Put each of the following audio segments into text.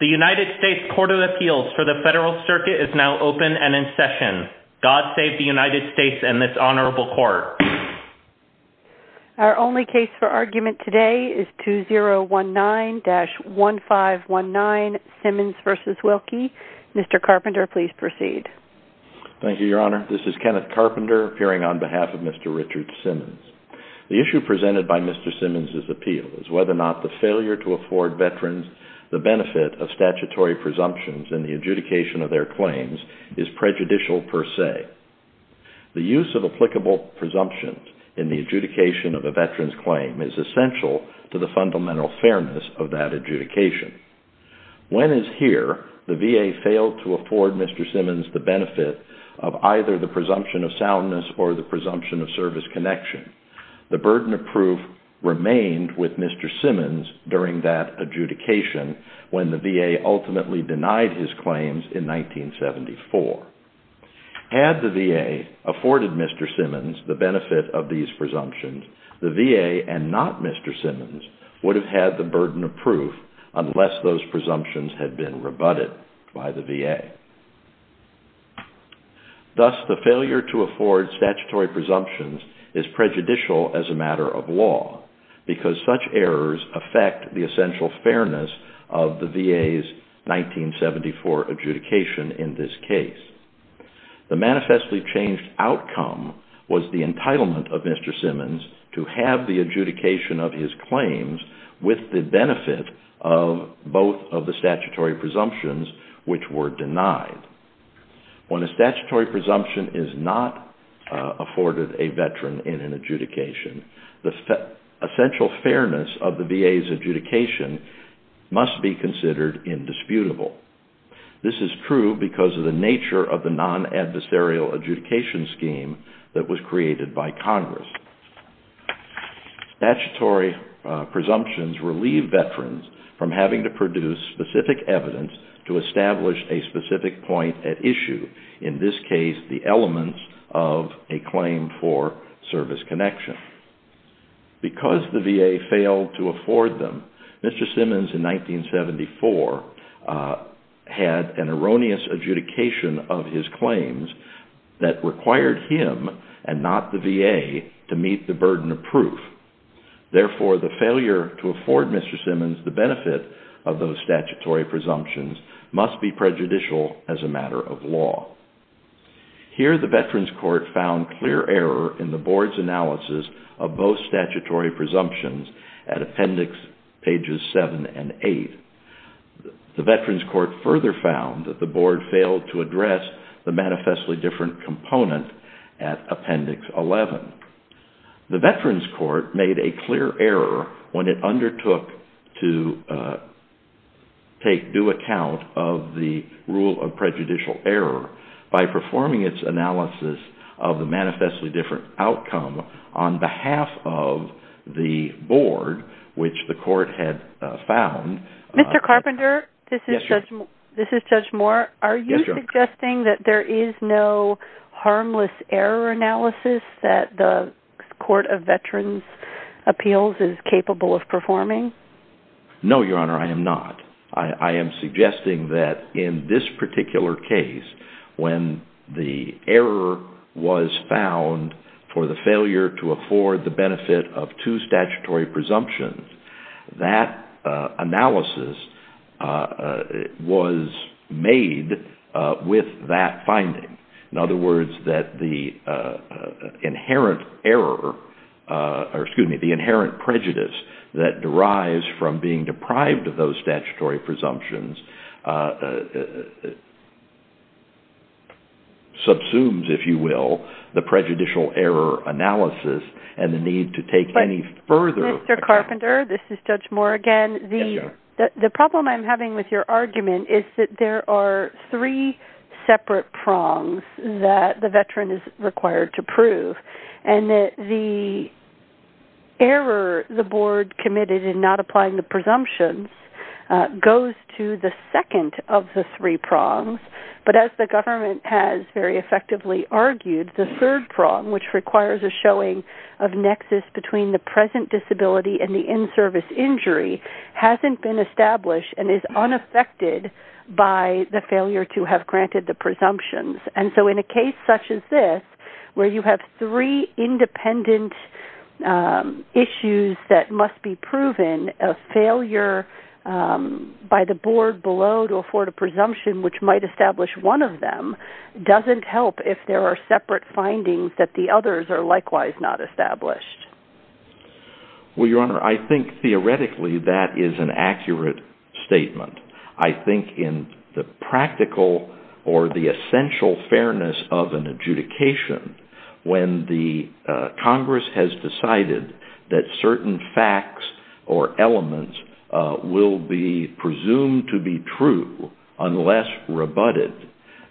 The United States Court of Appeals for the Federal Circuit is now open and in session. God save the United States and this Honorable Court. Our only case for argument today is 2019-1519, Simmons v. Wilkie. Mr. Carpenter, please proceed. Thank you, Your Honor. This is Kenneth Carpenter, appearing on behalf of Mr. Richard Simmons. The issue presented by Mr. Simmons' appeal is whether or not the failure to afford veterans the benefit of statutory presumptions in the adjudication of their claims is prejudicial per se. The use of applicable presumptions in the adjudication of a veteran's claim is essential to the fundamental fairness of that adjudication. When is here the VA failed to afford Mr. Simmons the benefit of either the presumption of soundness or the presumption of service connection? The burden of proof remained with Mr. Simmons during that adjudication when the VA ultimately denied his claims in 1974. Had the VA afforded Mr. Simmons the benefit of these presumptions, the VA and not Mr. Simmons would have had the burden of proof unless those presumptions had been rebutted by the VA. Thus, the failure to afford statutory presumptions is prejudicial as a matter of law because such errors affect the essential fairness of the VA's 1974 adjudication in this case. The manifestly changed outcome was the entitlement of Mr. Simmons to have the adjudication of When a statutory presumption is not afforded a veteran in an adjudication, the essential fairness of the VA's adjudication must be considered indisputable. This is true because of the nature of the non-adversarial adjudication scheme that was created by Congress. Statutory presumptions relieve veterans from having to produce specific evidence to establish a specific point at issue. In this case, the elements of a claim for service connection. Because the VA failed to afford them, Mr. Simmons in 1974 had an erroneous adjudication of his claims that required him and not the VA to meet the burden of proof. Therefore, the failure to afford Mr. Simmons the benefit of those statutory presumptions must be prejudicial as a matter of law. Here the Veterans Court found clear error in the Board's analysis of both statutory presumptions at Appendix 7 and 8. The Veterans Court further found that the Board failed to address the manifestly different component at Appendix 11. The Veterans Court made a clear error when it undertook to take due account of the rule of prejudicial error by performing its analysis of the manifestly different outcome on behalf of the Board, which the Court had found. Mr. Carpenter, this is Judge Moore. Are you suggesting that there is no harmless error analysis that the Court of Veterans Appeals is capable of performing? No, Your Honor, I am not. I am suggesting that in this particular case, when the error was found for the failure to meet the need with that finding, in other words, that the inherent prejudice that derives from being deprived of those statutory presumptions subsumes, if you will, the prejudicial error analysis and the need to take any further account. Mr. Carpenter, this is Judge Moore again. The problem I am having with your argument is that there are three separate prongs that the Veteran is required to prove, and that the error the Board committed in not applying the presumptions goes to the second of the three prongs, but as the government has very effectively argued, the third prong, which requires a showing of nexus between the present disability and the in-service injury, hasn't been established and is unaffected by the failure to have granted the presumptions. And so in a case such as this, where you have three independent issues that must be proven, a failure by the Board below to afford a presumption which might establish one of them doesn't help if there are separate findings that the others are likewise not established. Well, Your Honor, I think theoretically that is an accurate statement. I think in the practical or the essential fairness of an adjudication, when the Congress has decided that certain facts or elements will be presumed to be true unless rebutted,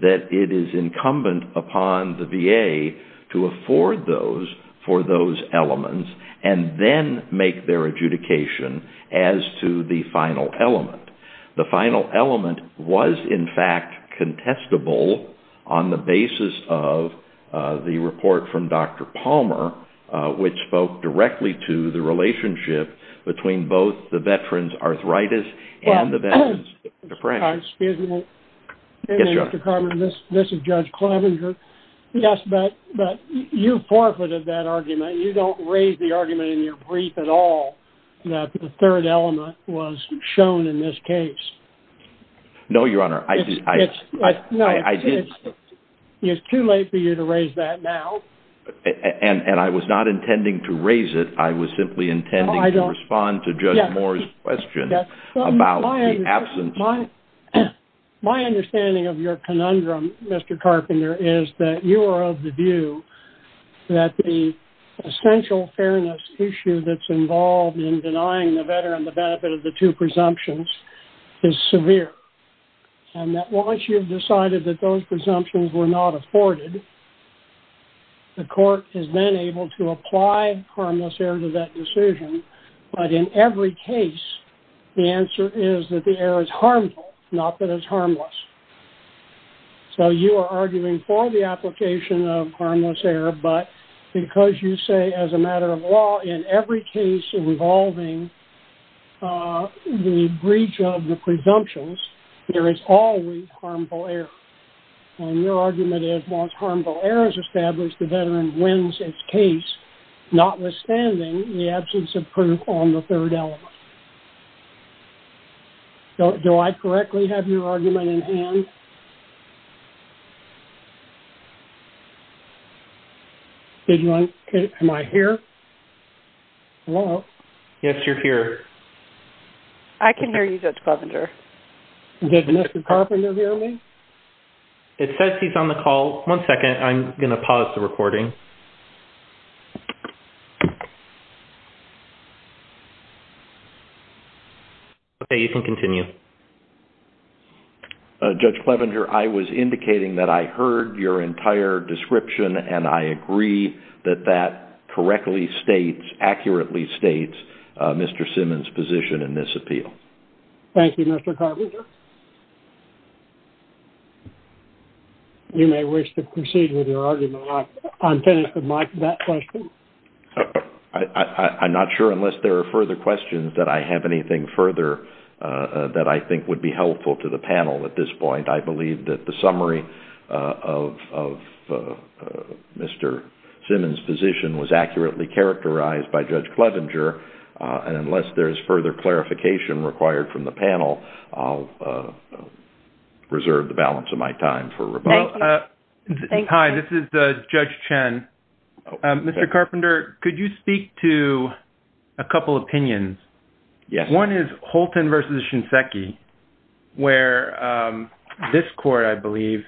that it is incumbent upon the VA to afford those for those elements and then make their adjudication as to the final element. The final element was, in fact, contestable on the basis of the report from Dr. Palmer, which spoke directly to the relationship between both the Veteran's arthritis and the Veteran's disability. Dr. Palmer, this is Judge Clevenger, yes, but you forfeited that argument. You don't raise the argument in your brief at all that the third element was shown in this case. No, Your Honor, I didn't. It's too late for you to raise that now. And I was not intending to raise it. I was simply intending to respond to Judge Moore's question about the absence. My understanding of your conundrum, Mr. Carpenter, is that you are of the view that the essential fairness issue that's involved in denying the Veteran the benefit of the two presumptions is severe and that once you've decided that those presumptions were not afforded, the court has been able to apply harmless error to that decision, but in every case, the answer is that the error is harmful, not that it's harmless. So you are arguing for the application of harmless error, but because you say as a matter of law in every case involving the breach of the presumptions, there is always harmful error. And your argument is once harmful error is established, the Veteran wins its case, not the presumptions approved on the third element. Do I correctly have your argument in hand? Did you want to – am I here? Hello? Yes, you're here. I can hear you, Judge Carpenter. Did Mr. Carpenter hear me? It says he's on the call. One second. I'm going to pause the recording. Okay, you can continue. Judge Clevenger, I was indicating that I heard your entire description and I agree that that correctly states, accurately states Mr. Simmons' position in this appeal. Thank you, Mr. Carpenter. You may wish to proceed with your argument on that question. I'm not sure unless there are further questions that I have anything further that I think would be helpful to the panel at this point. I believe that the summary of Mr. Simmons' position was accurately characterized by Judge Carpenter. I will reserve the balance of my time for rebuttal. Thank you. Hi. This is Judge Chen. Mr. Carpenter, could you speak to a couple opinions? Yes. One is Holton versus Shinseki, where this court, I believe,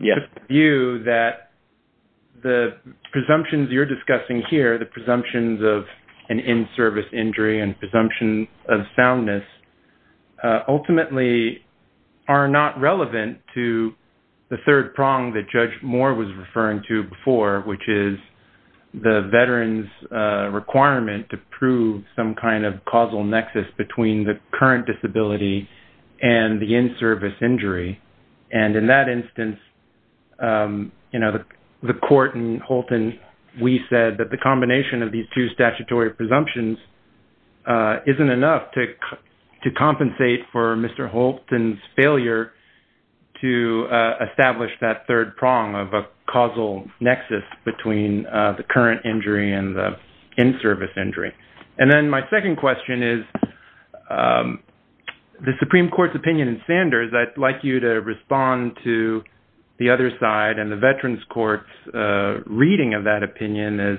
viewed that the presumptions you're discussing here, the presumptions of an in-service injury and presumptions of disability, are not relevant to the third prong that Judge Moore was referring to before, which is the veteran's requirement to prove some kind of causal nexus between the current disability and the in-service injury. In that instance, the court and Holton, we said that the combination of these two statutory presumptions isn't enough to compensate for Mr. Holton's failure to establish that third prong of a causal nexus between the current injury and the in-service injury. And then my second question is, the Supreme Court's opinion in Sanders, I'd like you to respond to the other side and the veteran's court's reading of that opinion as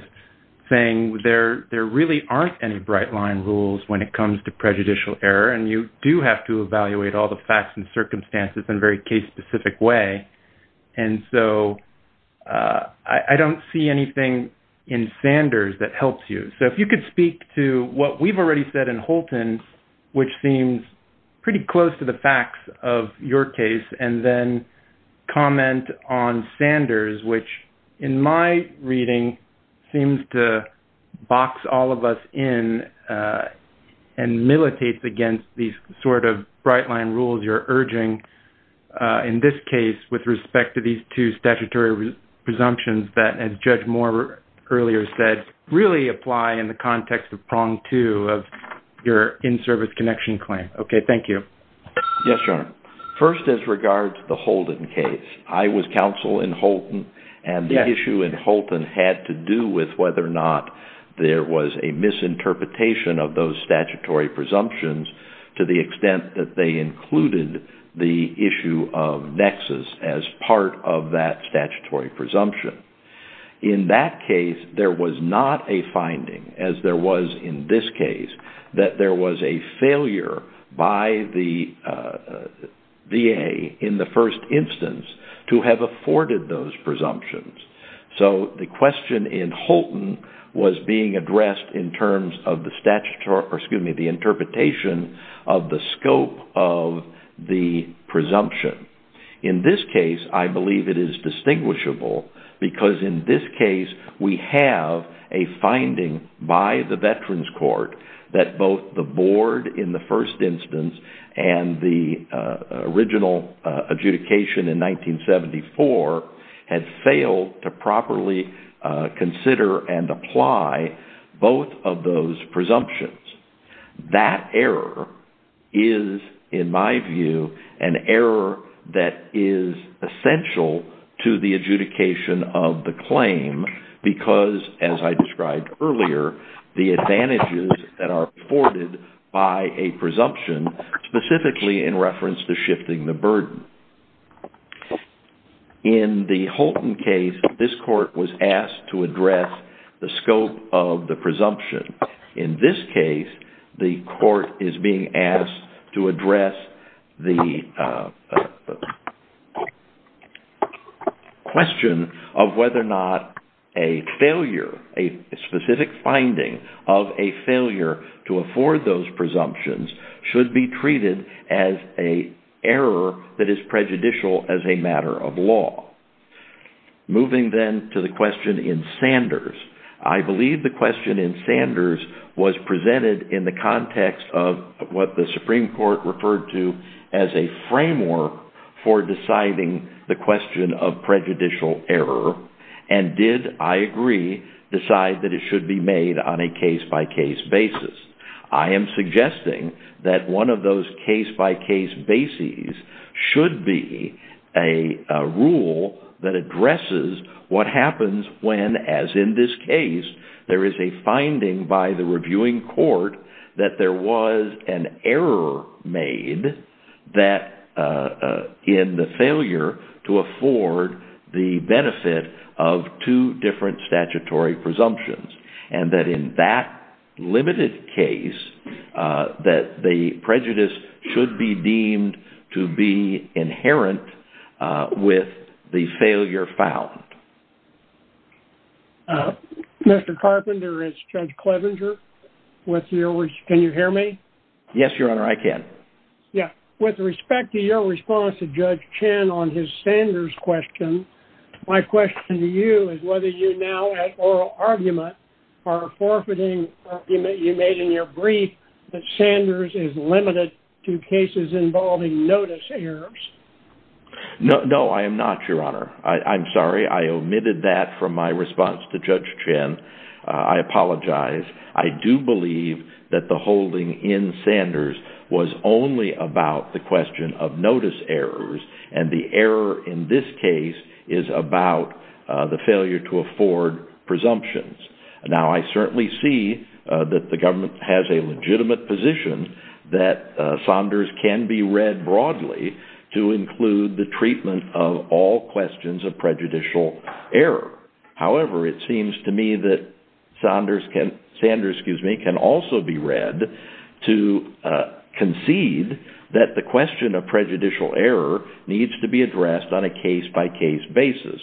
saying there really aren't any bright-line rules when it comes to prejudicial error, and you do have to evaluate all the facts and circumstances in a very case-specific way. And so I don't see anything in Sanders that helps you. So if you could speak to what we've already said in Holton, which seems pretty close to box all of us in and militates against these sort of bright-line rules you're urging in this case with respect to these two statutory presumptions that, as Judge Moore earlier said, really apply in the context of prong two of your in-service connection claim. Okay, thank you. Yes, Your Honor. First, as regards to the Holton case, I was counsel in Holton, and the issue in Holton had to do with whether or not there was a misinterpretation of those statutory presumptions to the extent that they included the issue of nexus as part of that statutory presumption. In that case, there was not a finding, as there was in this case, that there was a failure by the VA in the first instance to have afforded those presumptions. So the question in Holton was being addressed in terms of the interpretation of the scope of the presumption. In this case, I believe it is distinguishable, because in this case, we have a finding by the Veterans Court that both the board in the first instance and the original adjudication in 1974 had failed to properly consider and apply both of those presumptions. That error is, in my view, an error that is essential to the adjudication of the claim because, as I described earlier, the advantages that are afforded by a presumption, specifically in reference to shifting the burden. In the Holton case, this court was asked to address the scope of the presumption. In this case, the court is being asked to address the question of whether or not a failure, a specific finding of a failure to afford those presumptions, should be treated as a error that is prejudicial as a matter of law. Moving then to the question in Sanders, I believe the question in Sanders was presented in the context of what the Supreme Court referred to as a framework for deciding the question of prejudicial error and did, I agree, decide that it should be made on a case-by-case basis. I am suggesting that one of those case-by-case bases should be a rule that addresses what happens when, as in this case, there is a finding by the reviewing court that there the benefit of two different statutory presumptions and that, in that limited case, that the prejudice should be deemed to be inherent with the failure found. Mr. Carpenter, it's Judge Clevenger. Can you hear me? Yes, Your Honor. I can. With respect to your response to Judge Chen on his Sanders question, my question to you is whether you now, at oral argument, are forfeiting, you made in your brief that Sanders is limited to cases involving notice errors. No, I am not, Your Honor. I'm sorry. I omitted that from my response to Judge Chen. I apologize. I do believe that the holding in Sanders was only about the question of notice errors, and the error in this case is about the failure to afford presumptions. Now I certainly see that the government has a legitimate position that Sanders can be read broadly to include the treatment of all questions of prejudicial error. However, it seems to me that Sanders can also be read to concede that the question of prejudicial error needs to be addressed on a case-by-case basis.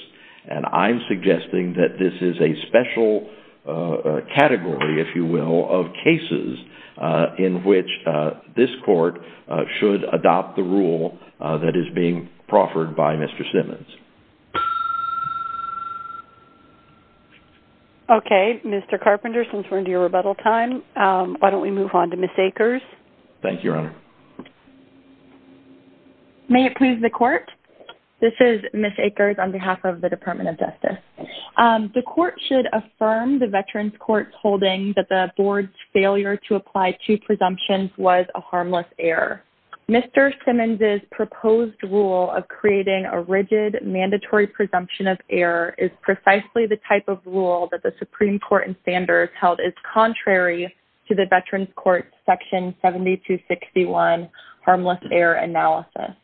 And I'm suggesting that this is a special category, if you will, of cases in which this court should adopt the rule that is being proffered by Mr. Simmons. Okay. Mr. Carpenter, since we're into your rebuttal time, why don't we move on to Ms. Akers? Thank you, Your Honor. May it please the Court? This is Ms. Akers on behalf of the Department of Justice. The Court should affirm the Veterans Court's holding that the Board's failure to apply two presumptions was a harmless error. Mr. Simmons's proposed rule of creating a rigid, mandatory presumption of error is precisely the type of rule that the Supreme Court in Sanders held is contrary to the Veterans Court's Section 7261 Harmless Error Analysis.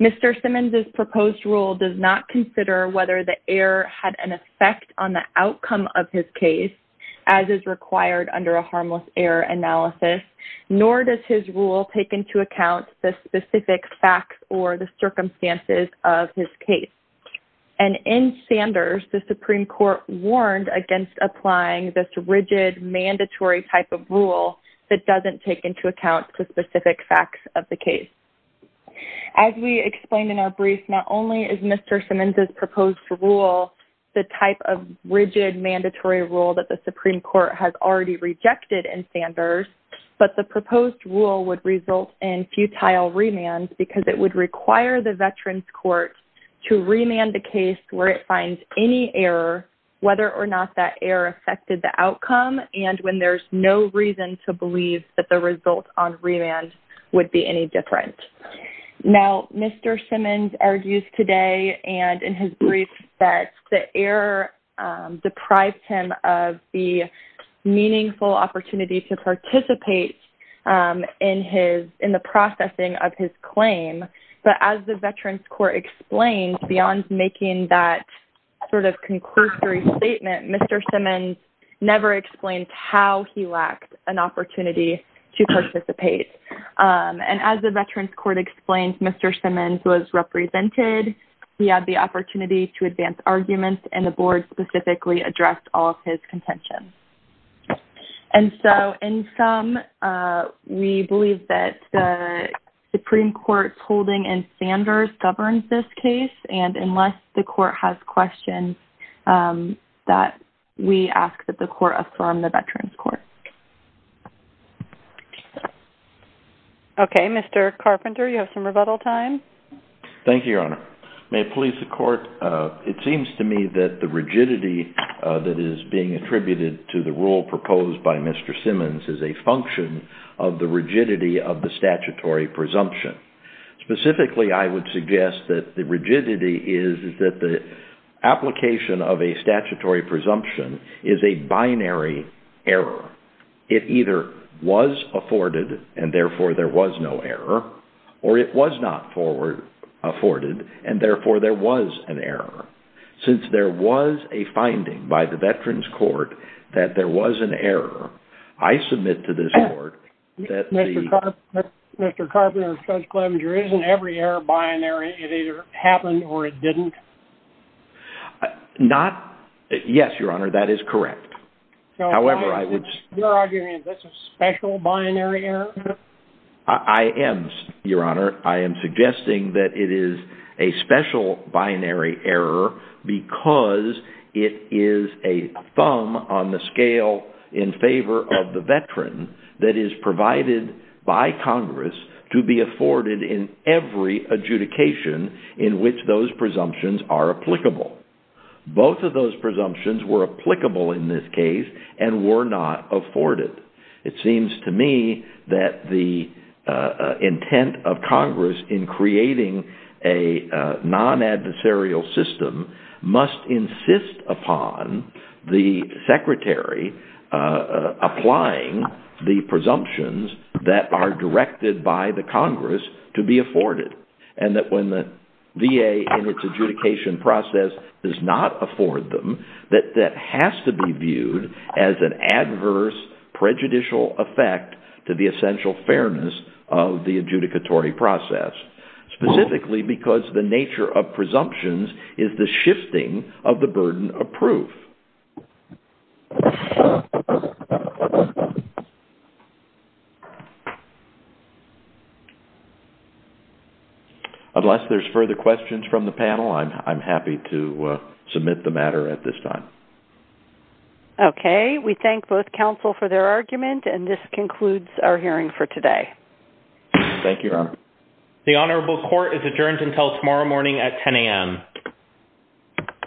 Mr. Simmons's proposed rule does not consider whether the error had an effect on the outcome of his case, as is required under a harmless error analysis, nor does his rule take into account the specific facts or the circumstances of his case. And in Sanders, the Supreme Court warned against applying this rigid, mandatory type of rule that doesn't take into account the specific facts of the case. As we explained in our brief, not only is Mr. Simmons's proposed rule the type of rigid, mandatory rule that the Supreme Court has already rejected in Sanders, but the proposed rule would result in futile remands because it would require the Veterans Court to remand the case where it finds any error, whether or not that error affected the outcome, and when there's no reason to believe that the result on remand would be any different. Now, Mr. Simmons argues today and in his brief that the error deprived him of the meaningful opportunity to participate in the processing of his claim, but as the Veterans Court explained, beyond making that sort of concursory statement, Mr. Simmons never explained how he lacked an opportunity to participate. And as the Veterans Court explained, Mr. Simmons was represented. He had the opportunity to advance arguments, and the board specifically addressed all of his contentions. And so, in sum, we believe that the Supreme Court's holding in Sanders governs this case, and unless the court has questions, that we ask that the court affirm the Veterans Court. Okay, Mr. Carpenter, you have some rebuttal time. Thank you, Your Honor. May it please the Court, it seems to me that the rigidity that is being attributed to the rule proposed by Mr. Simmons is a function of the rigidity of the statutory presumption. Specifically, I would suggest that the rigidity is that the application of a statutory presumption is a binary error. It either was afforded, and therefore, there was no error, or it was not afforded, and therefore, there was an error. Since there was a finding by the Veterans Court that there was an error, I submit to this court that the- Mr. Carpenter, Judge Clevenger, isn't every error binary? It either happened or it didn't? Not- yes, Your Honor, that is correct. However, I would- Your argument, that's a special binary error? I am, Your Honor. I am suggesting that it is a special binary error because it is a thumb on the scale in favor of the veteran that is provided by Congress to be afforded in every adjudication in which those presumptions are applicable. Both of those presumptions were applicable in this case and were not afforded. It seems to me that the intent of Congress in creating a non-adversarial system must insist upon the secretary applying the presumptions that are directed by the Congress to be afforded and that when the VA in its adjudication process does not afford them, that that has to be viewed as an adverse prejudicial effect to the essential fairness of the adjudicatory process, specifically because the nature of presumptions is the shifting of the burden of proof. Unless there's further questions from the panel, I'm happy to submit the matter at this time. Okay. We thank both counsel for their argument and this concludes our hearing for today. Thank you, Your Honor. The Honorable Court is adjourned until tomorrow morning at 10 a.m.